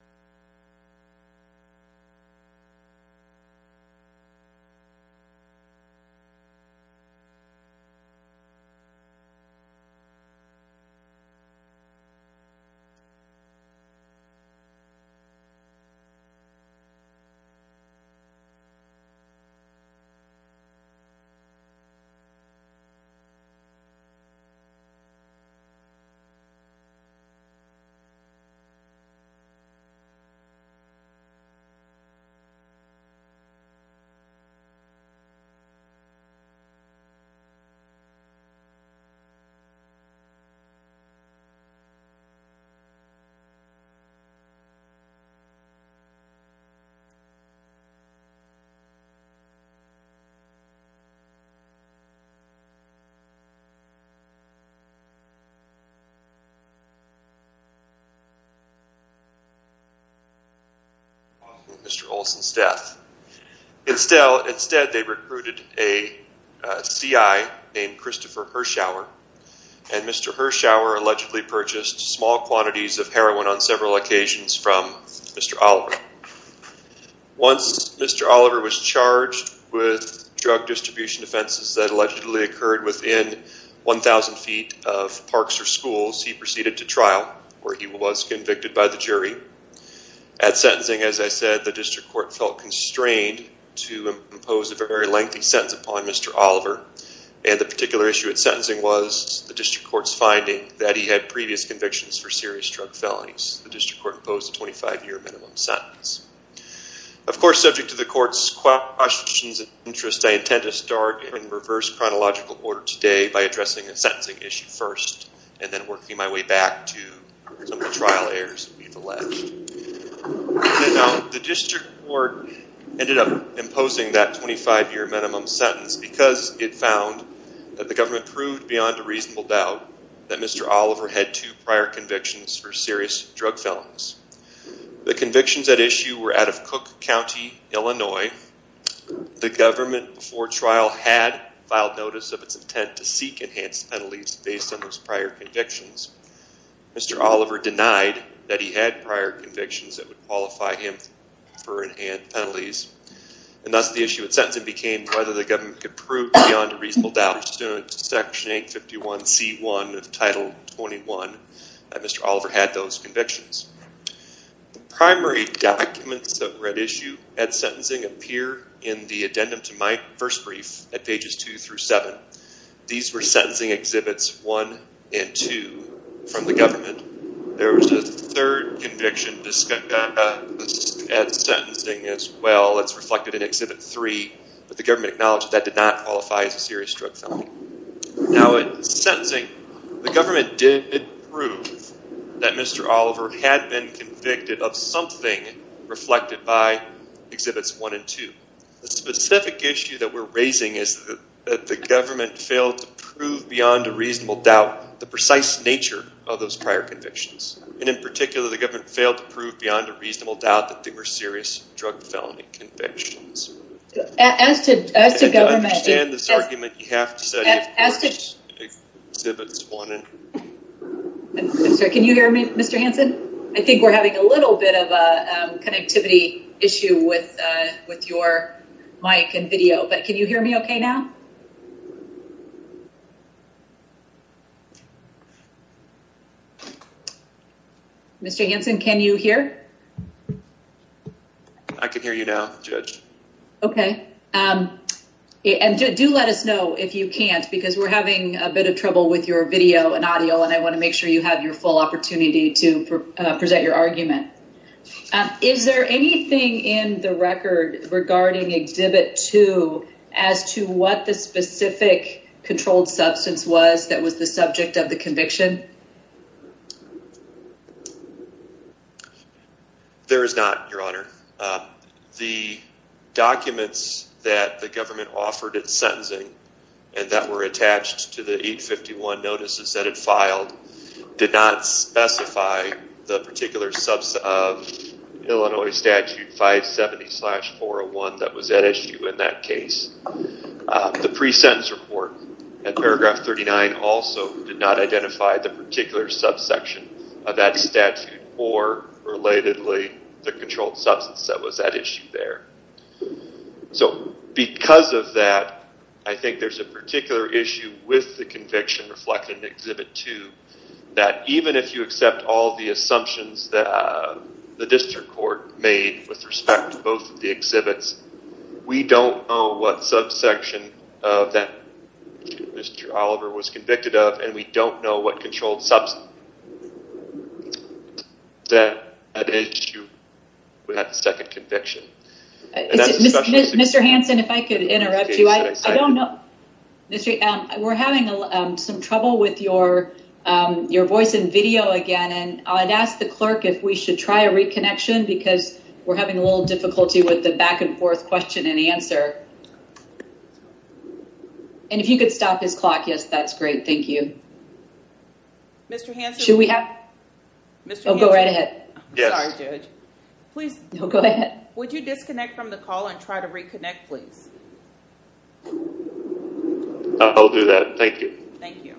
HOSPITAL HOSPITAL ...Mr. Olson's death. Instead they recruited a CI named Christopher Hirschauer and Mr. Hirschauer allegedly purchased small quantities of heroin on several occasions from Mr. Oliver. Once Mr. Oliver was charged with drug distribution offenses that allegedly occurred within 1,000 feet of parks or parks. At sentencing, as I said, the district court felt constrained to impose a very lengthy sentence upon Mr. Oliver and the particular issue at sentencing was the district court's finding that he had previous convictions for serious drug felonies. The district court imposed a 25 year minimum sentence. Of course subject to the court's questions and interests, I intend to start in reverse chronological order today by addressing a sentencing issue first and then working my way back to some of the trial errors we've alleged. The district court ended up imposing that 25 year minimum sentence because it found that the government proved beyond a reasonable doubt that Mr. Oliver had two prior convictions for serious drug felonies. The convictions at issue were out of Cook County, Illinois. The government before trial had filed notice of its intent to seek enhanced penalties based on those prior convictions. Mr. Oliver denied that he had prior convictions that would qualify him for enhanced penalties and thus the issue at sentencing became whether the government could prove beyond a reasonable doubt to section 851c1 of title 21 that Mr. Oliver had those convictions. The primary documents that were at issue at sentencing appear in the addendum to my first brief at pages 2 through 7. These were sentencing exhibits 1 and 2 from the government. There was a third conviction at sentencing as well that's reflected in exhibit 3, but the government acknowledged that did not qualify as a serious drug felony. Now at sentencing, the government did prove that Mr. Oliver had been convicted of something reflected by exhibits 1 and 2. The specific issue that we're raising is that the government failed to prove beyond a reasonable doubt the precise nature of those prior convictions and in particular the government failed to prove beyond a reasonable doubt that they were serious drug felony convictions. As to government... To understand this argument, you have to study exhibits 1 and 2. Can you hear me Mr. Hanson? I think we're having a little bit of a connectivity issue with with your mic and video, but can you hear me okay now? Mr. Hanson, can you hear? I can hear you now, Judge. Okay, and do let us know if you can't because we're having a bit of trouble with your video and audio and I want to make sure you have your full opportunity to present your argument. Is there anything in the record regarding exhibit 2 as to what the specific controlled substance was that was the subject of the conviction? There is not, Your Honor. The documents that the government offered at sentencing and that were attached to the 851 notices that it filed did not specify the particular subsection of Illinois statute 570 slash 401 that was at issue in that case. The pre-sentence report at paragraph 39 also did not identify the particular subsection of that statute or relatedly the controlled substance that was at issue there. So because of that, I think there's a particular issue with the conviction reflected in exhibit 2 that even if you accept all the assumptions that the district court made with respect to both of the exhibits, we don't know what subsection that Mr. Oliver was convicted of and we don't know what controlled substance that at issue with that second conviction. Mr. Hanson, if I could interrupt you, I don't know. We're having some trouble with your your voice in video again and I'd ask the clerk if we should try a reconnection because we're having a little difficulty with the back-and-forth question and Mr. Hanson? Should we have? Mr. Hanson? Oh, go right ahead. Yes. I'm sorry, Judge. Please. No, go ahead. Would you disconnect from the call and try to reconnect, please? I'll do that. Thank you. Thank you.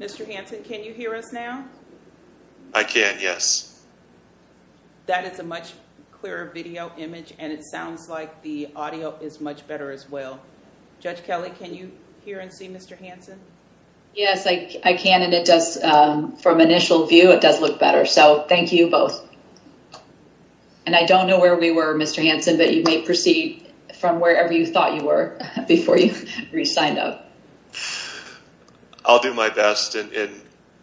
Mr. Hanson, can you hear us now? I can, yes. That is a much clearer video image and it sounds like the audio is much better as well. Judge Kelly, can you hear and see Mr. Hanson? Yes, I can and it does from initial view it does look better. So thank you both. And I don't know where we were, Mr. Hanson, but you may proceed from wherever you thought you were before you re-signed up. I'll do my best and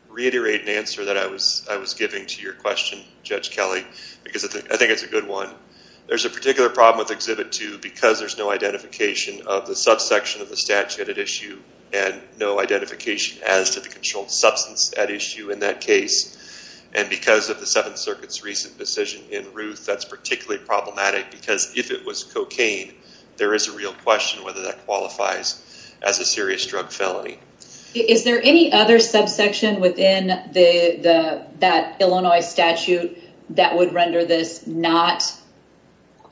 reiterate an answer that I was I was giving to your question, Judge Kelly, because I think it's a good one. There's a particular problem with Exhibit 2 because there's no identification of the subsection of the statute at issue and no identification as to the controlled substance at issue in that case and because of the Seventh Circuit's recent decision in Ruth, that's cocaine, there is a real question whether that qualifies as a serious drug felony. Is there any other subsection within the that Illinois statute that would render this not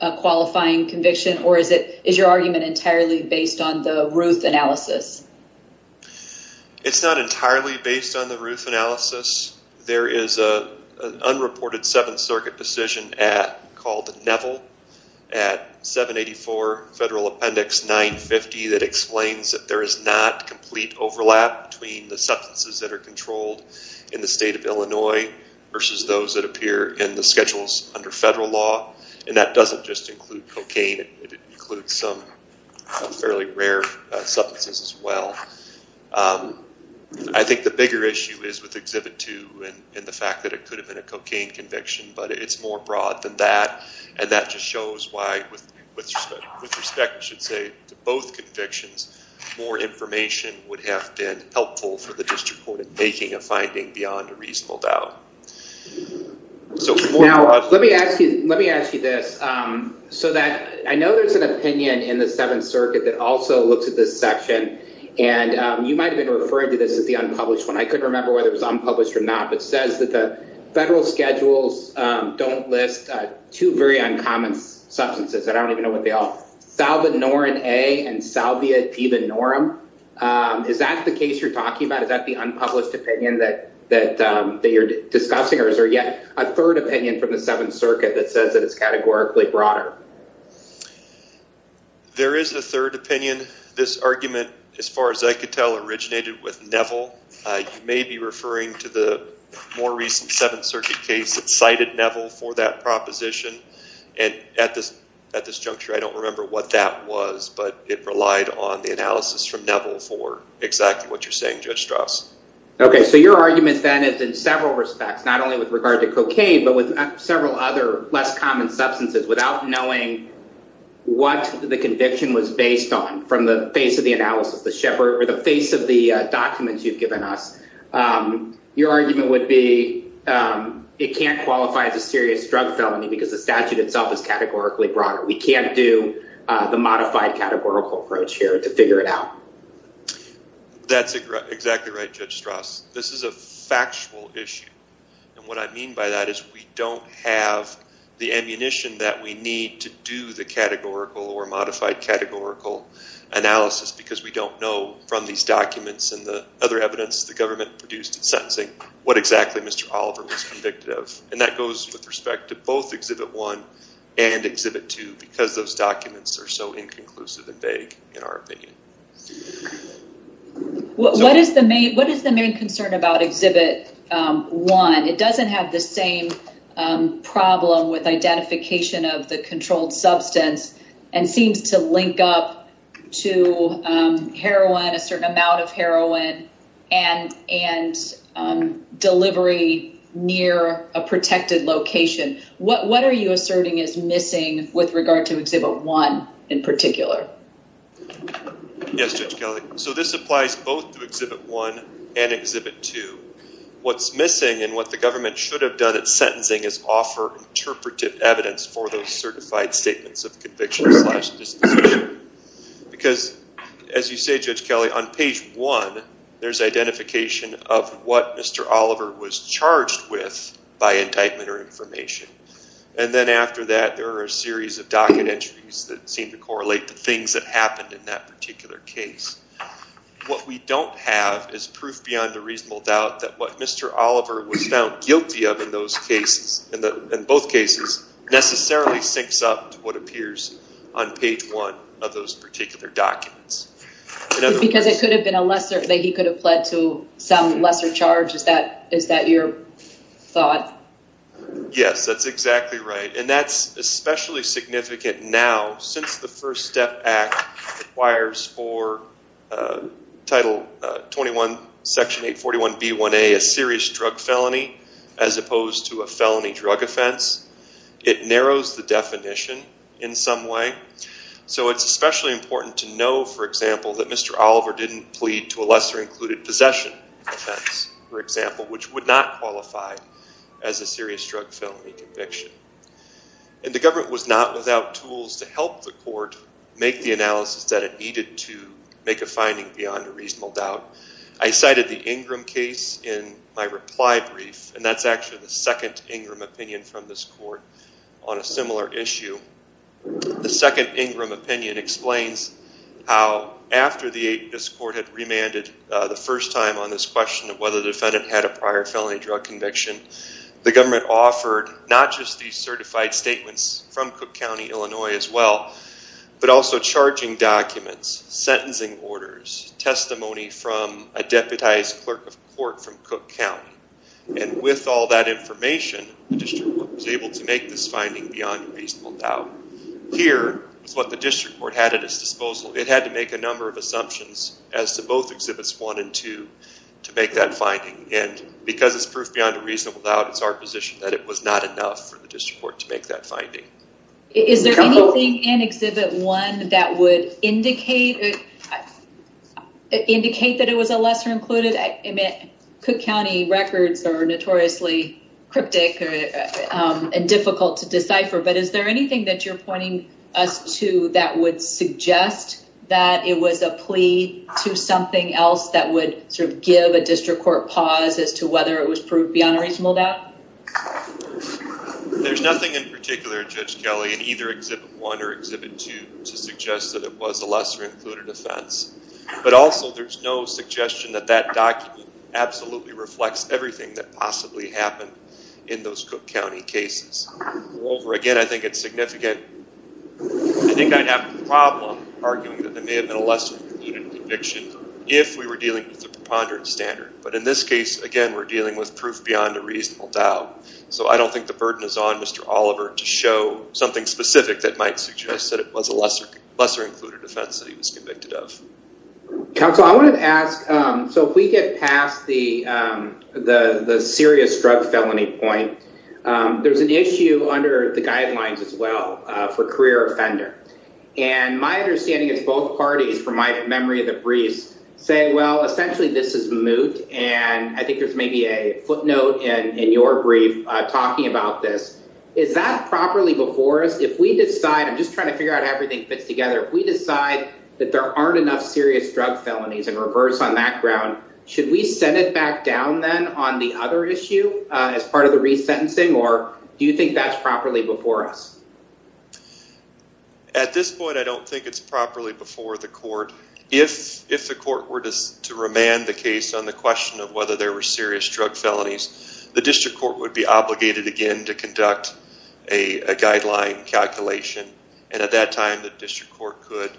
a qualifying conviction or is it is your argument entirely based on the Ruth analysis? It's not entirely based on the Ruth analysis. There is a unreported Seventh Circuit decision at called Neville at 784 Federal Appendix 950 that explains that there is not complete overlap between the substances that are controlled in the state of Illinois versus those that appear in the schedules under federal law and that doesn't just include cocaine, it includes some fairly rare substances as well. I think the bigger issue is with Exhibit 2 and the fact that it could have been a cocaine conviction but it's more broad than that and that just shows why with respect, I should say, to both convictions more information would have been helpful for the district court in making a finding beyond a reasonable doubt. Let me ask you this. I know there's an opinion in the Seventh Circuit that also looks at this section and you might have been referring to this as the unpublished one. I couldn't remember whether it was unpublished or not but it says that the federal schedules don't list two very uncommon substances. I don't even know what they are. Salvinorin A and Salvia Divinorum. Is that the case you're talking about? Is that the unpublished opinion that you're discussing or is there yet a third opinion from the Seventh Circuit that says that it's categorically broader? There is a third opinion. This argument as far as I could tell originated with Neville. You may be referring to the more recent Seventh Circuit case that cited Neville for that proposition and at this juncture I don't remember what that was but it relied on the analysis from Neville for exactly what you're saying Judge Strauss. Okay so your argument then is in several respects not only with regard to cocaine but with several other less common substances without knowing what the conviction was based on from the face of the analysis, the shepherd or the face of the documents you've given us. Your argument would be it can't qualify as a serious drug felony because the statute itself is categorically broader. We can't do the modified categorical approach here to figure it out. That's exactly right Judge Strauss. This is a factual issue and what I mean by that is we don't have the ammunition that we need to do the categorical or modified categorical analysis because we don't know from these documents and the other evidence the government produced in sentencing what exactly Mr. Oliver was convicted of and that goes with respect to both Exhibit 1 and Exhibit 2 because those documents are so inconclusive and vague in our opinion. What is the main concern about Exhibit 1? It doesn't have the same problem with identification of the controlled substance and seems to link up to heroin, a certain amount of heroin and delivery near a protected location. What are you asserting is missing with regard to Exhibit 1 in particular? Yes Judge Kelley. So this applies both to Exhibit 1 and Exhibit 2. What's missing and what the government should have done at sentencing is offer interpretive evidence for those certified statements of conviction because as you say Judge Kelley on page 1 there's identification of what Mr. Oliver was charged with by indictment or information and then after that there are a series of docket entries that what we don't have is proof beyond a reasonable doubt that what Mr. Oliver was found guilty of in those cases in the in both cases necessarily syncs up to what appears on page 1 of those particular documents. Because it could have been a lesser that he could have pled to some lesser charge is that is that your thought? Yes that's exactly right and that's especially significant now since the First Step Act requires for title 21 section 841 b1a a serious drug felony as opposed to a felony drug offense it narrows the definition in some way so it's especially important to know for example that Mr. Oliver didn't plead to a lesser included possession offense for example which would not qualify as a serious drug felony conviction and the government was not without tools to help the court make the analysis that it needed to make a finding beyond a reasonable doubt. I cited the Ingram case in my reply brief and that's actually the second Ingram opinion from this court on a similar issue. The second Ingram opinion explains how after this court had remanded the first time on this question of whether the defendant had a prior felony drug conviction the government offered not just these certified statements from Cook County Illinois as well but also charging documents, sentencing orders, testimony from a deputized clerk of court from Cook County and with all that information the district was able to make this finding beyond reasonable doubt. Here is what the district court had at its disposal it had to make a number of assumptions as to both exhibits one and two to make that finding and because it's proof beyond a reasonable doubt it's our enough for the district court to make that finding. Is there anything in exhibit one that would indicate that it was a lesser included? I mean Cook County records are notoriously cryptic and difficult to decipher but is there anything that you're pointing us to that would suggest that it was a plea to something else that would sort of give a district court pause as to whether it was proof beyond a reasonable doubt? There's nothing in particular Judge Kelly in either exhibit one or exhibit two to suggest that it was a lesser included offense but also there's no suggestion that that document absolutely reflects everything that possibly happened in those Cook County cases. Moreover again I think it's significant I think I'd have a problem arguing that there may have been a lesser included conviction if we were dealing with a proof beyond a reasonable doubt so I don't think the burden is on Mr. Oliver to show something specific that might suggest that it was a lesser included offense that he was convicted of. Counsel I wanted to ask so if we get past the the the serious drug felony point there's an issue under the guidelines as well for career offender and my understanding is both parties from my memory of the briefs say well essentially this is moot and I think there's maybe a footnote and in your brief talking about this is that properly before us if we decide I'm just trying to figure out everything fits together we decide that there aren't enough serious drug felonies and reverse on that ground should we send it back down then on the other issue as part of the resentencing or do you think that's properly before us? At this point I don't think it's properly before the court if if the court were to remand the case on the question of whether there were serious drug felonies the district court would be obligated again to conduct a guideline calculation and at that time the district court could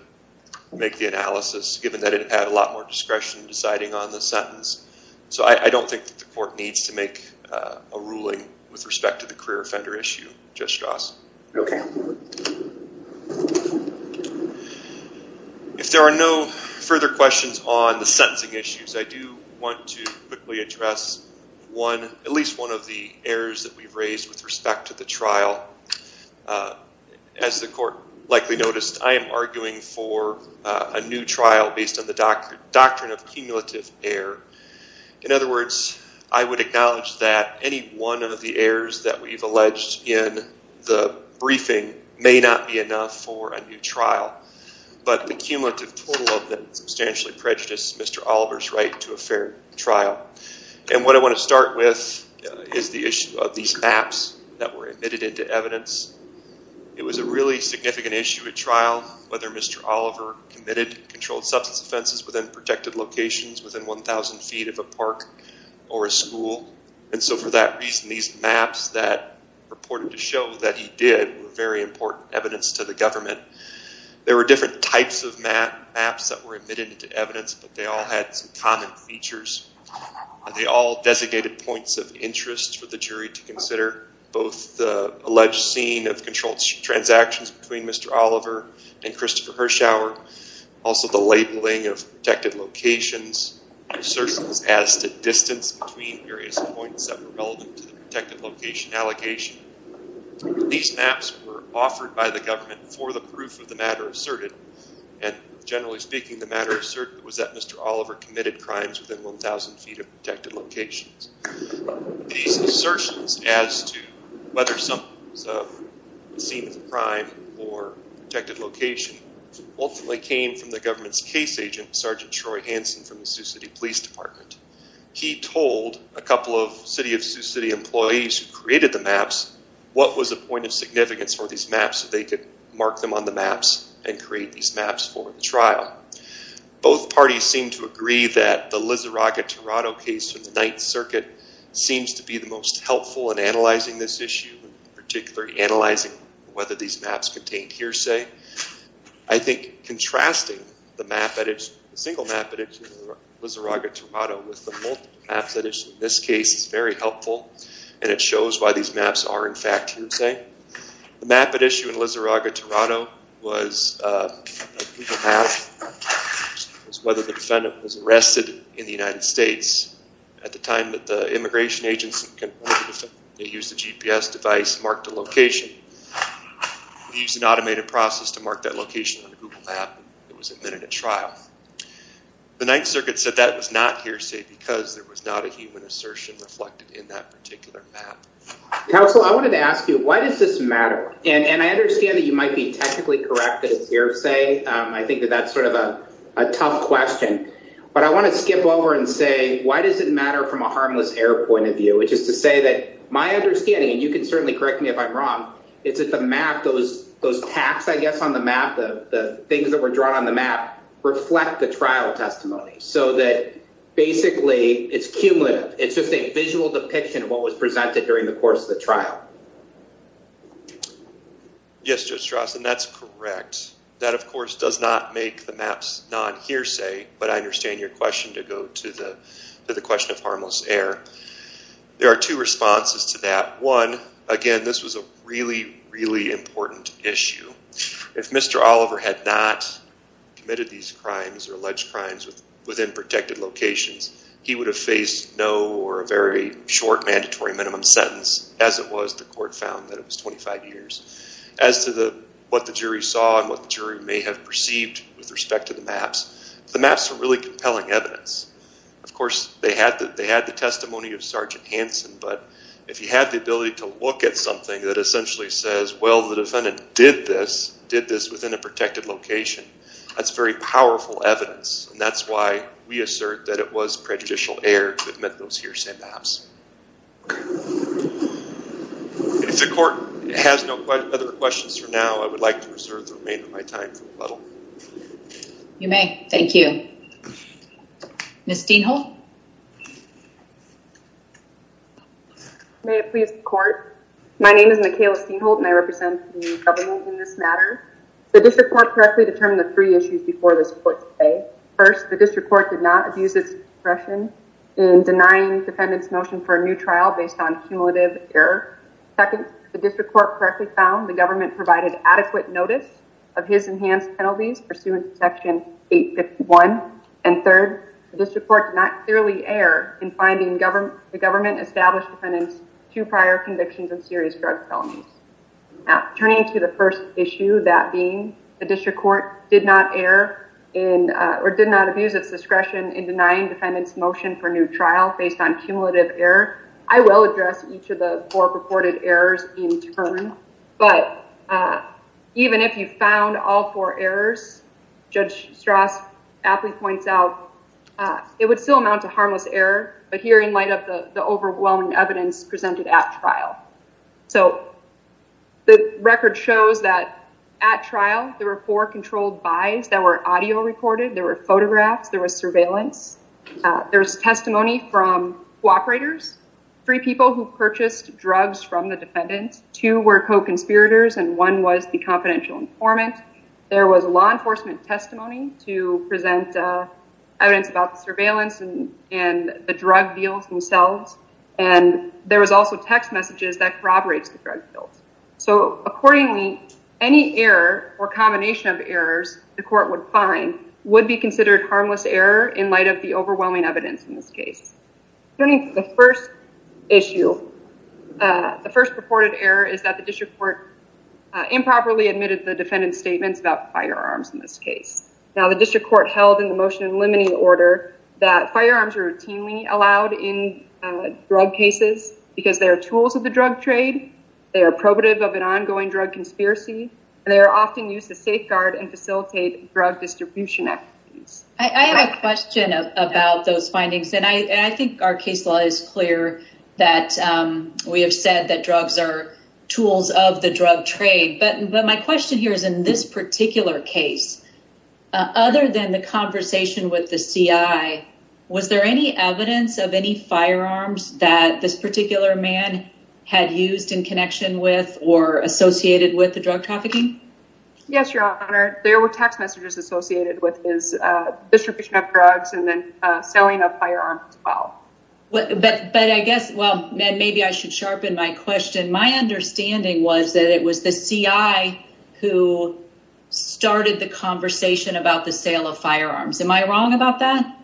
make the analysis given that it had a lot more discretion in deciding on the sentence so I don't think the court needs to make a ruling with respect to the career offender issue, Judge Strauss. If there are no further questions on the sentencing issues I do want to quickly address one at least one of the errors that we've raised with respect to the trial. As the court likely noticed I am arguing for a new trial based on the doctrine of cumulative error. In other words I would acknowledge that any one of the errors that we've alleged in the briefing may not be enough for a new substantially prejudiced Mr. Oliver's right to a fair trial and what I want to start with is the issue of these maps that were admitted into evidence. It was a really significant issue at trial whether Mr. Oliver committed controlled substance offenses within protected locations within 1,000 feet of a park or a school and so for that reason these maps that reported to show that he did were very important evidence to the government. There were different types of maps that were admitted into evidence but they all had some common features. They all designated points of interest for the jury to consider both the alleged scene of controlled transactions between Mr. Oliver and Christopher Hirschhauer, also the labeling of protected locations, assertions as to distance between various points that were relevant to the protected location allocation. These maps were offered by the government for the proof of the generally speaking the matter of certain was that Mr. Oliver committed crimes within 1,000 feet of protected locations. These assertions as to whether some scene of crime or protected location ultimately came from the government's case agent Sergeant Troy Hanson from the Sioux City Police Department. He told a couple of City of Sioux City employees who created the maps what was the point of significance for these maps so they could mark them on the maps and create these maps for the trial. Both parties seem to agree that the Lizarraga-Toronto case from the Ninth Circuit seems to be the most helpful in analyzing this issue, particularly analyzing whether these maps contained hearsay. I think contrasting the single map at issue in Lizarraga-Toronto with the multiple maps at issue in this case is very helpful and it shows why these maps are in fact hearsay. The map at issue in Lizarraga-Toronto was whether the defendant was arrested in the United States at the time that the immigration agents used the GPS device marked a location. We used an automated process to mark that location on a Google map. It was admitted at trial. The Ninth Circuit said that was not hearsay because there was not a human assertion reflected in that particular map. Counselor, I wanted to ask you why does this matter? And I understand that you might be technically correct that it's hearsay. I think that that's sort of a tough question. But I want to skip over and say why does it matter from a harmless error point of view? Which is to say that my understanding, and you can certainly correct me if I'm wrong, is that the map, those those tacks I guess on the map, the things that were drawn on the map, reflect the trial testimony. So that basically it's cumulative. It's just a Yes, Judge Strassen, that's correct. That of course does not make the maps non-hearsay. But I understand your question to go to the to the question of harmless error. There are two responses to that. One, again this was a really really important issue. If Mr. Oliver had not committed these crimes or alleged crimes within protected locations, he would have faced no or a very short mandatory minimum sentence as it was the court found that it was 25 years. As to the what the jury saw and what the jury may have perceived with respect to the maps, the maps are really compelling evidence. Of course they had that they had the testimony of Sergeant Hanson, but if you had the ability to look at something that essentially says well the defendant did this, did this within a protected location, that's very powerful evidence. And that's why we assert that it was If the court has no other questions for now, I would like to reserve the remainder of my time. You may. Thank you. Ms. Steenholt. May it please the court. My name is Mikayla Steenholt and I represent the government in this matter. The district court correctly determined the three issues before this court today. First, the district court did not abuse its discretion in denying defendants motion for a new trial based on cumulative error. Second, the district court correctly found the government provided adequate notice of his enhanced penalties pursuant to section 851. And third, the district court did not clearly err in finding the government established defendants two prior convictions of serious drug felonies. Now turning to the first issue, that being the district court did not err in or did not abuse its discretion in denying defendants motion for new trial based on cumulative error. I will address each of the four purported errors in turn, but even if you found all four errors, Judge Strauss aptly points out, it would still amount to harmless error, but here in light of the overwhelming evidence presented at trial. So the record shows that at trial there were four controlled buys that were audio recorded, there were testimony from co-operators, three people who purchased drugs from the defendants, two were co-conspirators, and one was the confidential informant, there was a law enforcement testimony to present evidence about the surveillance and the drug deals themselves, and there was also text messages that corroborates the drug deals. So accordingly, any error or combination of errors the court would find would be considered harmless error in light of the overwhelming evidence in this case. Turning to the first issue, the first purported error is that the district court improperly admitted the defendants statements about firearms in this case. Now the district court held in the motion in limiting order that firearms are routinely allowed in drug cases because they are tools of the drug trade, they are probative of an ongoing drug conspiracy, and they are often used to safeguard and facilitate drug distribution activities. I have a question about those findings, and I think our case law is clear that we have said that drugs are tools of the drug trade, but my question here is in this particular case, other than the conversation with the CI, was there any evidence of any firearms that this particular man had used in connection with or associated with the case? Yes, your honor, there were text messages associated with his distribution of drugs and then selling of firearms as well. But I guess, well maybe I should sharpen my question, my understanding was that it was the CI who started the conversation about the sale of firearms. Am I wrong about that?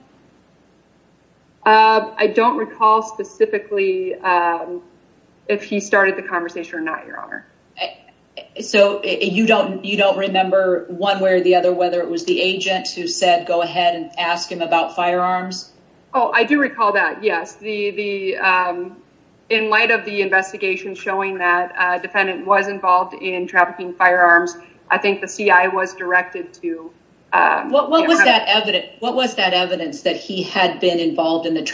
I don't recall specifically if he started the conversation or not, your honor. So you don't you don't remember one way or the other whether it was the agent who said go ahead and ask him about firearms? Oh, I do recall that, yes. In light of the investigation showing that a defendant was involved in trafficking firearms, I think the CI was directed to... What was that evidence that he had been involved in that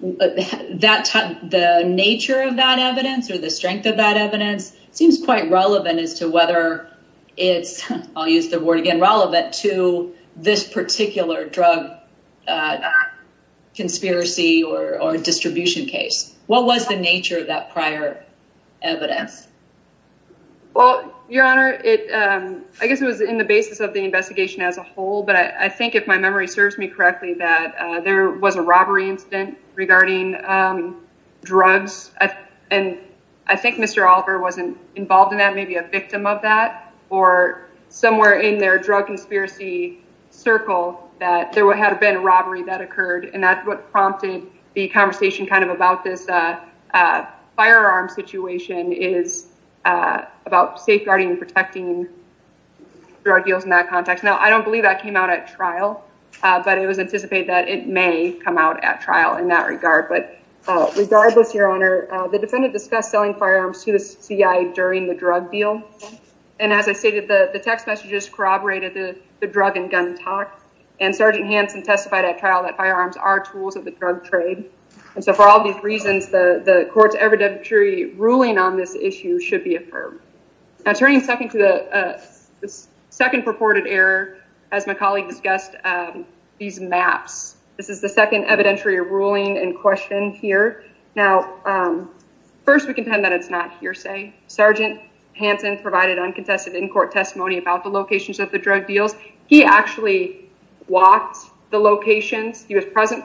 the nature of that evidence or the strength of that evidence seems quite relevant as to whether it's, I'll use the word again, relevant to this particular drug conspiracy or distribution case. What was the nature of that prior evidence? Well, your honor, I guess it was in the basis of the investigation as a whole, but I think if my memory serves me correctly that there was a robbery incident regarding drugs and I think Mr. Oliver wasn't involved in that, maybe a victim of that or somewhere in their drug conspiracy circle that there would have been a robbery that occurred and that's what prompted the conversation kind of about this firearm situation is about safeguarding and protecting drug deals in that context. Now, I don't believe that it may come out at trial in that regard, but regardless, your honor, the defendant discussed selling firearms to the CI during the drug deal and as I stated, the text messages corroborated the drug and gun talk and Sergeant Hanson testified at trial that firearms are tools of the drug trade and so for all these reasons, the court's evidentiary ruling on this issue should be affirmed. Now, turning second to the second purported error, as my colleague discussed, these maps. This is the second evidentiary ruling in question here. Now, first, we contend that it's not hearsay. Sergeant Hanson provided uncontested in court testimony about the locations of the drug deals. He actually walked the locations. He was present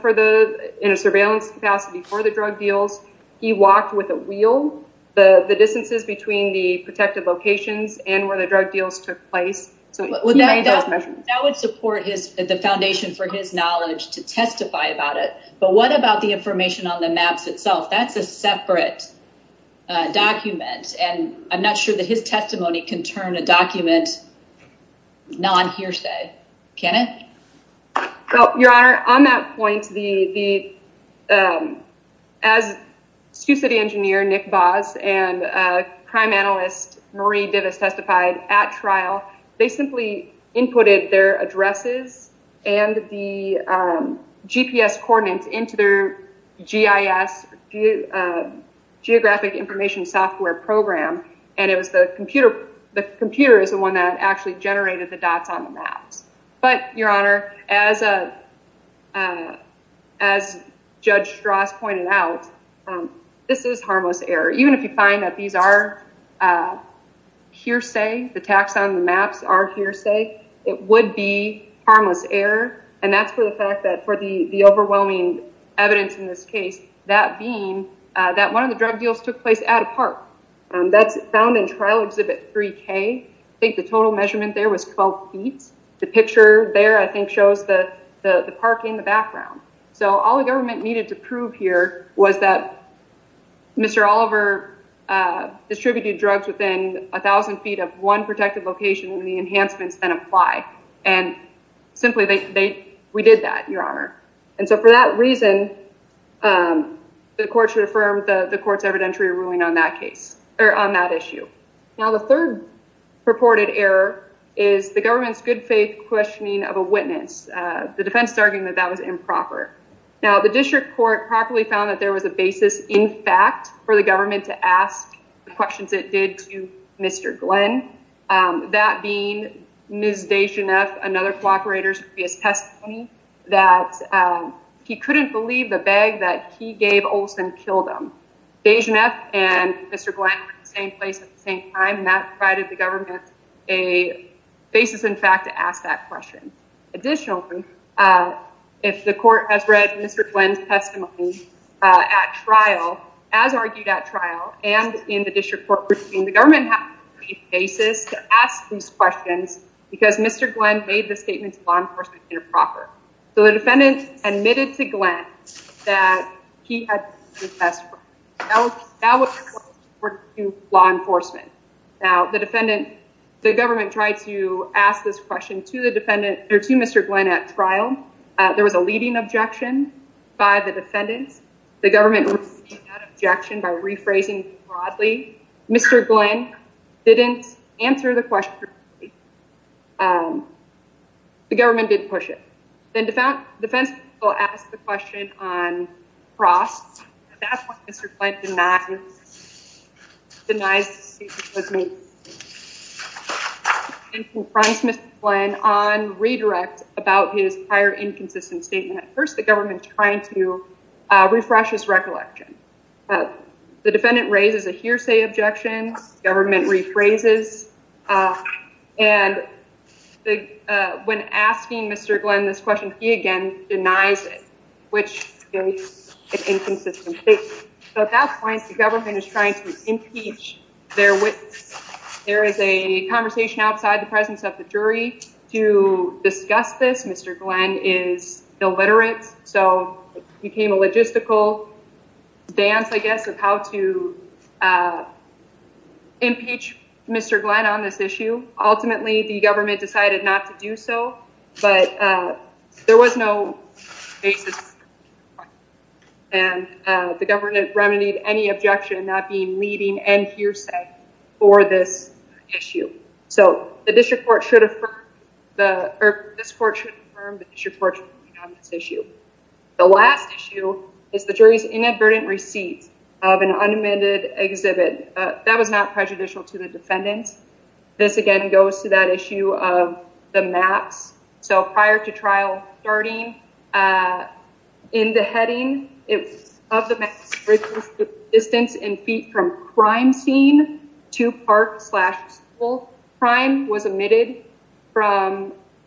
in a surveillance capacity for the drug deals. He walked with a wheel the distances between the protected locations and where the drug deals took place. That would support the foundation for his knowledge to testify about it, but what about the information on the maps itself? That's a separate document and I'm not sure that his testimony can turn a document non-hearsay. Can it? Well, your honor, on that point, as Sioux City engineer Nick Voss and crime analyst Marie Divis testified at trial, they simply inputted their addresses and the GPS coordinates into their GIS, geographic information software program, and it was the computer. The computer is the one that actually generated the dots on the maps, but your honor, as Judge Strauss pointed out, this is hearsay. The tax on the maps are hearsay. It would be harmless error and that's for the fact that for the overwhelming evidence in this case, that being that one of the drug deals took place at a park. That's found in trial exhibit 3K. I think the total measurement there was 12 feet. The picture there, I think, shows the park in the background. So all the government needed to prove here was that Mr. Oliver distributed drugs within a thousand feet of one protected location and the enhancements then apply. And simply, we did that, your honor. And so for that reason, the court should affirm the court's evidentiary ruling on that case or on that issue. Now, the third purported error is the government's good faith questioning of a witness. The defense is arguing that that was improper. Now, the district court properly found that there was a basis in fact for the government to ask the questions it did to Mr. Glenn. That being Ms. Dejeneff, another cooperator's previous testimony, that he couldn't believe the bag that he gave Olson killed him. Dejeneff and Mr. Glenn were in the same place at the same time and that provided the government a basis in fact to ask that question. Additionally, if the court has read Mr. Glenn's trial, as argued at trial and in the district court, the government has a basis to ask these questions because Mr. Glenn made the statement to law enforcement improper. So the defendant admitted to Glenn that he had confessed. That was law enforcement. Now, the defendant, the government tried to ask this question to the defendant or to Mr. Glenn at trial. There was a leading objection by the objection by rephrasing broadly. Mr. Glenn didn't answer the question. The government didn't push it. Then the defense will ask the question on cross. At that point, Mr. Glenn denies the statement was made and confronts Mr. Glenn on redirect about his prior inconsistent statement. At first, the government's trying to the defendant raises a hearsay objection. Government rephrases. And when asking Mr. Glenn this question, he again denies it, which is an inconsistent statement. At that point, the government is trying to impeach their witness. There is a conversation outside the presence of the jury to discuss this. Mr. Glenn is illiterate. So it became a logistical dance, I guess, of how to impeach Mr. Glenn on this issue. Ultimately, the government decided not to do so. But there was no basis. And the government remedied any objection not being leading and hearsay for this issue. So the district court should affirm this court should affirm the district court's ruling on this issue. The last issue is the jury's inadvertent receipt of an unamended exhibit. That was not prejudicial to the defendants. This again goes to that issue of the maps. So prior to trial starting, in the heading of the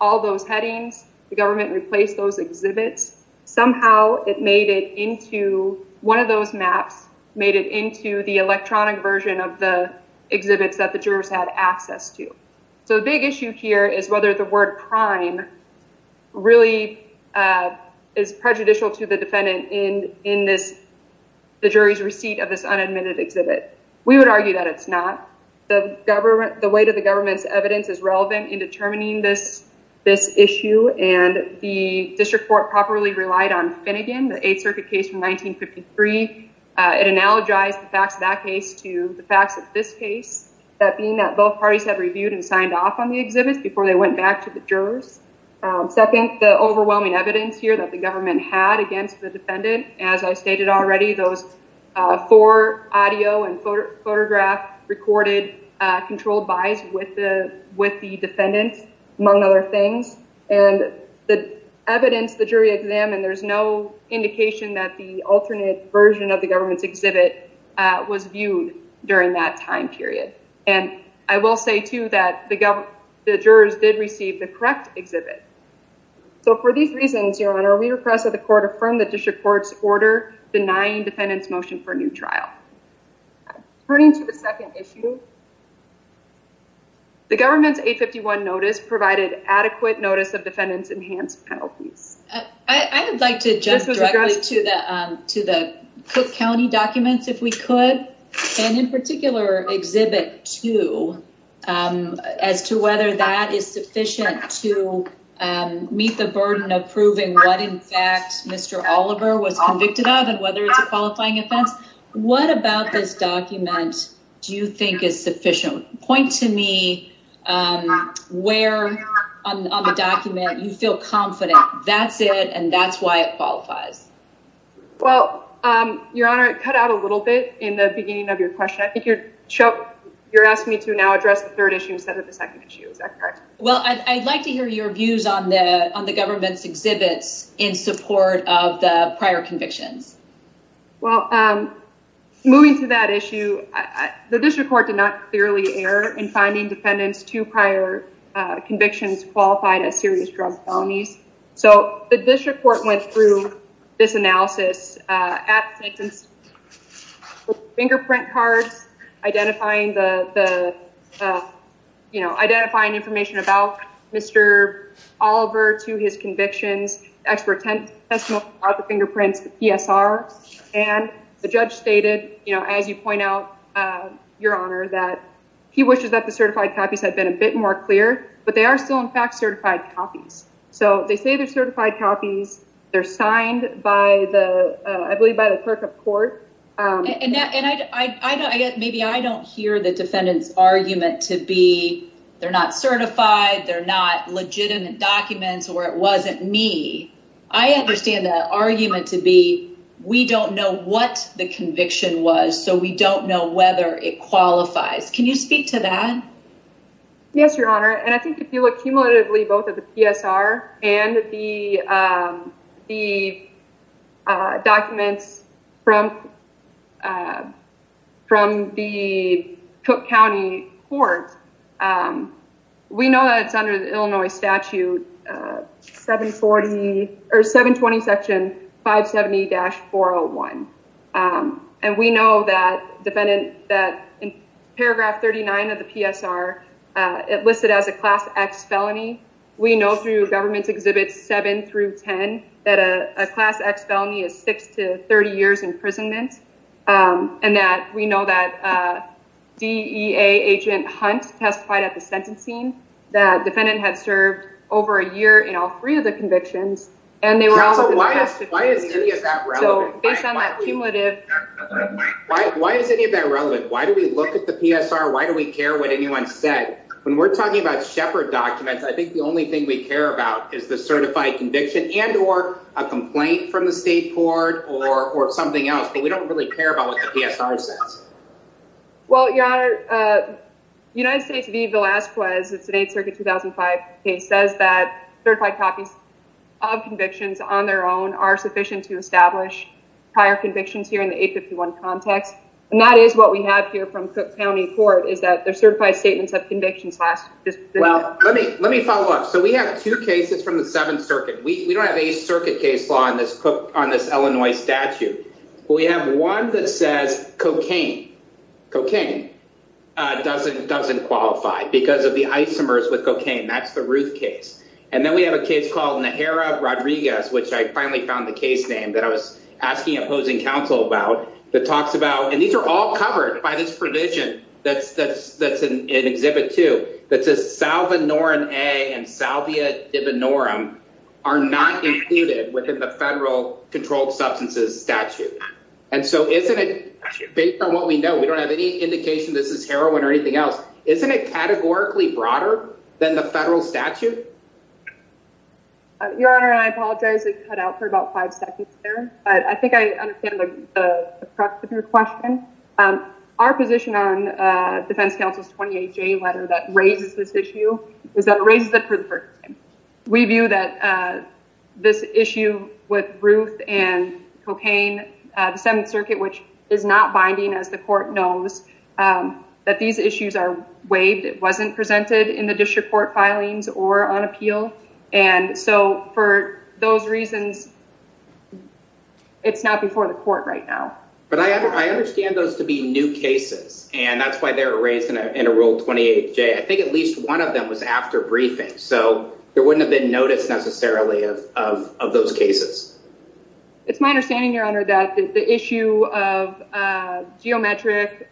all those headings, the government replaced those exhibits. Somehow it made it into one of those maps, made it into the electronic version of the exhibits that the jurors had access to. So the big issue here is whether the word prime really is prejudicial to the defendant in this, the jury's receipt of this unamended exhibit. We would argue that it's not. The weight of the government's evidence is relevant in determining this issue, and the district court properly relied on Finnegan, the 8th Circuit case from 1953. It analogized the facts of that case to the facts of this case, that being that both parties have reviewed and signed off on the exhibits before they went back to the jurors. Second, the overwhelming evidence here that the government had against the defendant, as I stated already, those four audio and photograph recorded controlled buys with the defendant, among other things. And the evidence the jury examined, there's no indication that the alternate version of the government's exhibit was viewed during that time period. And I will say, too, that the jurors did receive the correct exhibit. So for these reasons, Your Honor, we request that court affirm the district court's order denying defendant's motion for a new trial. Turning to the second issue, the government's 851 notice provided adequate notice of defendant's enhanced penalties. I would like to jump directly to the Cook County documents, if we could, and in particular, exhibit two, as to whether that is sufficient to meet the burden of proving what, in fact, Mr. Oliver was convicted of and whether it's a qualifying offense. What about this document do you think is sufficient? Point to me where on the document you feel confident that's it and that's why it qualifies. Well, Your Honor, it cut out a little bit in the beginning of your question. I think you're asking me to now address the third issue instead of the second issue. Is that correct? Well, I'd like to hear your views on the government's exhibits in support of the prior convictions. Well, moving to that issue, the district court did not clearly err in finding defendant's two prior convictions qualified as serious drug felonies. So the district court went through this analysis at fingerprint cards, identifying information about Mr. Oliver to his convictions, expert testimony about the fingerprints, the PSR, and the judge stated, as you point out, Your Honor, that he wishes that the certified copies had been a bit more clear, but are still, in fact, certified copies. So they say they're certified copies. They're signed by the, I believe, by the clerk of court. Maybe I don't hear the defendant's argument to be they're not certified, they're not legitimate documents, or it wasn't me. I understand the argument to be we don't know what the conviction was, so we don't know whether it qualifies. Can you speak to that? Yes, Your Honor, and I think if you look cumulatively both at the PSR and the documents from the Cook County court, we know that it's under the Illinois statute 720 section 570-401, and we know that defendant, that in paragraph 39 of the PSR, it listed as a class X felony. We know through government exhibits 7 through 10 that a class X felony is 6 to 30 years imprisonment, and that we know that DEA agent Hunt testified at the court for a year in all three of the convictions, and they were all tested. So why is any of that relevant? Why is any of that relevant? Why do we look at the PSR? Why do we care what anyone said? When we're talking about Shepard documents, I think the only thing we care about is the certified conviction and or a complaint from the state court or something else, but we don't really care about what the PSR says. Well, Your Honor, United States v. Villasquez, it's the 8th circuit 2005 case, says that certified copies of convictions on their own are sufficient to establish prior convictions here in the 851 context, and that is what we have here from Cook County court, is that their certified statements of convictions last. Well, let me follow up. So we have two cases from the 7th circuit. We don't have a circuit case law on this Cook, on this Illinois statute, but we have one that says cocaine. Cocaine doesn't qualify because of the isomers with Ruth case. And then we have a case called Najera Rodriguez, which I finally found the case name that I was asking opposing counsel about, that talks about, and these are all covered by this provision that's in Exhibit 2, that says salvinorin A and salvia divinorum are not included within the federal controlled substances statute. And so isn't it, based on what we know, we don't have any indication this is heroin or anything else, isn't it categorically broader than the federal statute? Your Honor, I apologize, I cut out for about five seconds there, but I think I understand the crux of your question. Our position on defense counsel's 28-J letter that raises this issue is that it raises it for the first time. We view that this issue with Ruth and cocaine, the 7th circuit, which is not binding as the court knows, that these issues are waived. It is not before the court right now. But I understand those to be new cases, and that's why they're raised in a Rule 28-J. I think at least one of them was after briefing, so there wouldn't have been notice necessarily of those cases. It's my understanding, Your Honor, that the issue of geometric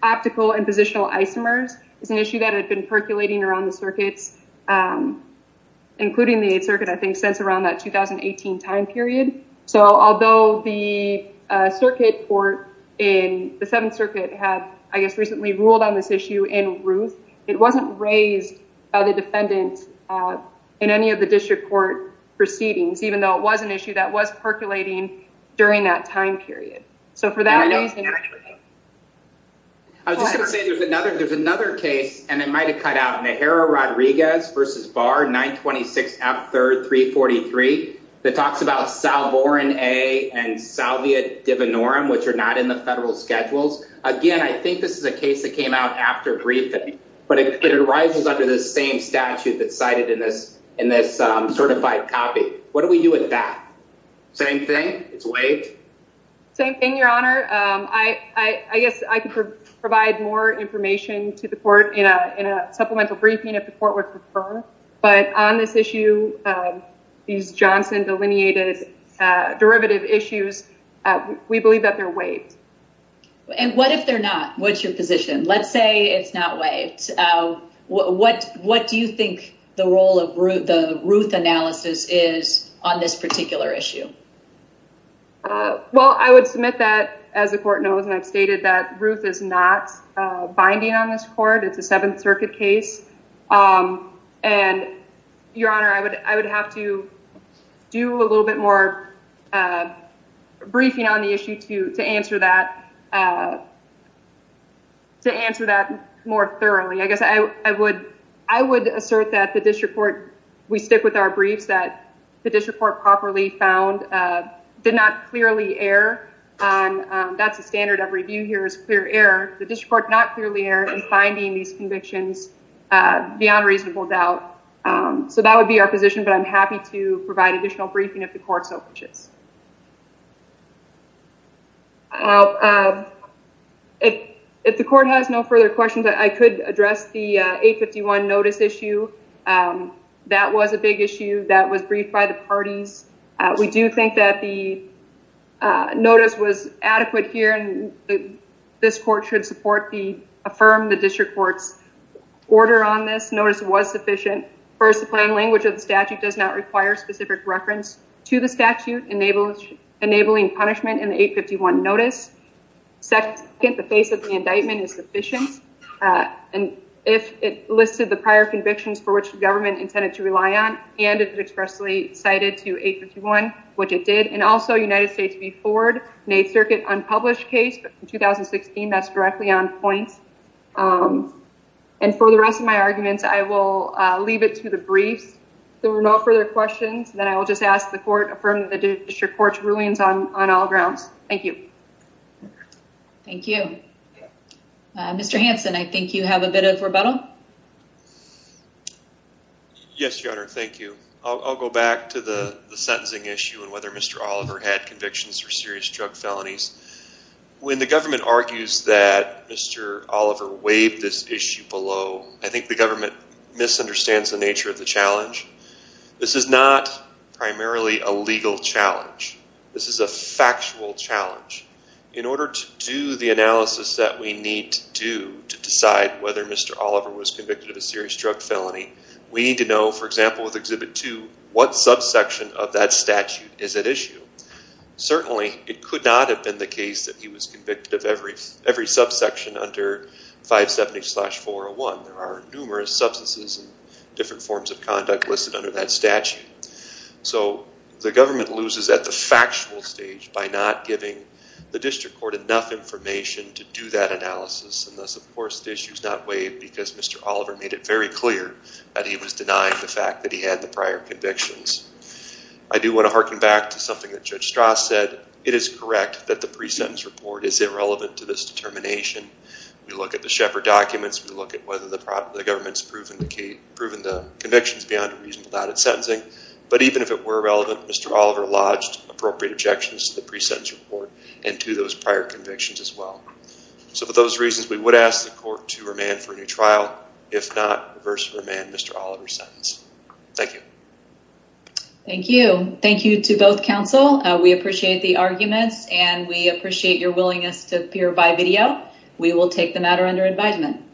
optical and positional isomers is an issue that had been percolating around the circuits, including the 8th circuit, I think, since around that 2018 time period. So although the circuit court in the 7th circuit had, I guess, recently ruled on this issue in Ruth, it wasn't raised by the defendant in any of the district court proceedings, even though it was an issue that was percolating during that time period. So for that reason— I was just going to say, there's another case, and it might have cut out, Najera Rodriguez versus Barr, 926 F. 3rd 343, that talks about Salborin A and Salvia Divinorum, which are not in the brief, but it arises under the same statute that's cited in this certified copy. What do we do with that? Same thing? It's waived? Same thing, Your Honor. I guess I could provide more information to the court in a supplemental briefing if the court would prefer, but on this issue, these Johnson delineated derivative issues, we believe that they're waived. And what if they're not? What's your position? Let's say it's not waived. What do you think the role of the Ruth analysis is on this particular issue? Well, I would submit that, as the court knows, and I've stated that Ruth is not binding on this court. It's a 7th circuit case. And, Your Honor, I would have to do a little bit more briefing on the issue to answer that more thoroughly. I guess I would assert that the district court, we stick with our briefs, that the district court properly found, did not clearly err on, that's the standard of review here, is clear error. The district court not clearly error in finding these convictions beyond reasonable doubt. So that would be our position, but I'm not sure that the court has any further questions on this particular issue. Well, if the court has no further questions, I could address the 851 notice issue. That was a big issue. That was briefed by the parties. We do think that the notice was adequate here, and this court should support the, affirm the district court's order on this. Notice was sufficient. First, the plain language of the statute does not require specific reference to the statute, enabling punishment in the 851 notice. Second, the face of the indictment is sufficient. And if it listed the prior convictions for which the government intended to rely on, and it expressly cited to 851, which it did, and also United States v. Ford, an 8th circuit unpublished case from 2016, that's directly on point. And for the rest of my arguments, I will leave it to the briefs. If there are no further questions, then I will just ask the court affirm the district court's rulings on all grounds. Thank you. Thank you. Mr. Hanson, I think you have a bit of rebuttal. Yes, your honor. Thank you. I'll go back to the sentencing issue and whether Mr. Oliver had convictions for serious drug felonies. When the government argues that Mr. Oliver waived this issue below, I think the government misunderstands the nature of the challenge. This is not primarily a legal challenge. This is a factual challenge. In order to do the analysis that we need to do to decide whether Mr. Oliver was convicted of a serious drug felony, we need to know, for example, with Exhibit 2, what subsection of that statute is at issue. Certainly, it could not have been the case that he was convicted of every subsection under 570-401. There are numerous substances and different forms of conduct listed under that statute. The government loses at the factual stage by not giving the district court enough information to do that analysis. Thus, of course, the issue is not waived because Mr. Oliver made it very clear that he was denying the fact that he had the prior convictions. I do want to harken back to something that Judge Strauss said. It is correct that the pre-sentence report is irrelevant to this determination. We look at the Shepard documents. We look at whether the government has proven the convictions beyond a reasonable doubt in sentencing. Even if it were relevant, Mr. Oliver lodged appropriate objections to the pre-sentence report and to those prior convictions as well. For those reasons, we would ask the court to remand for a new trial. If not, reverse remand Mr. Oliver's sentence. Thank you. Thank you. Thank you to both counsel. We appreciate the arguments and we appreciate your willingness to appear by video. We will take the matter under advisement.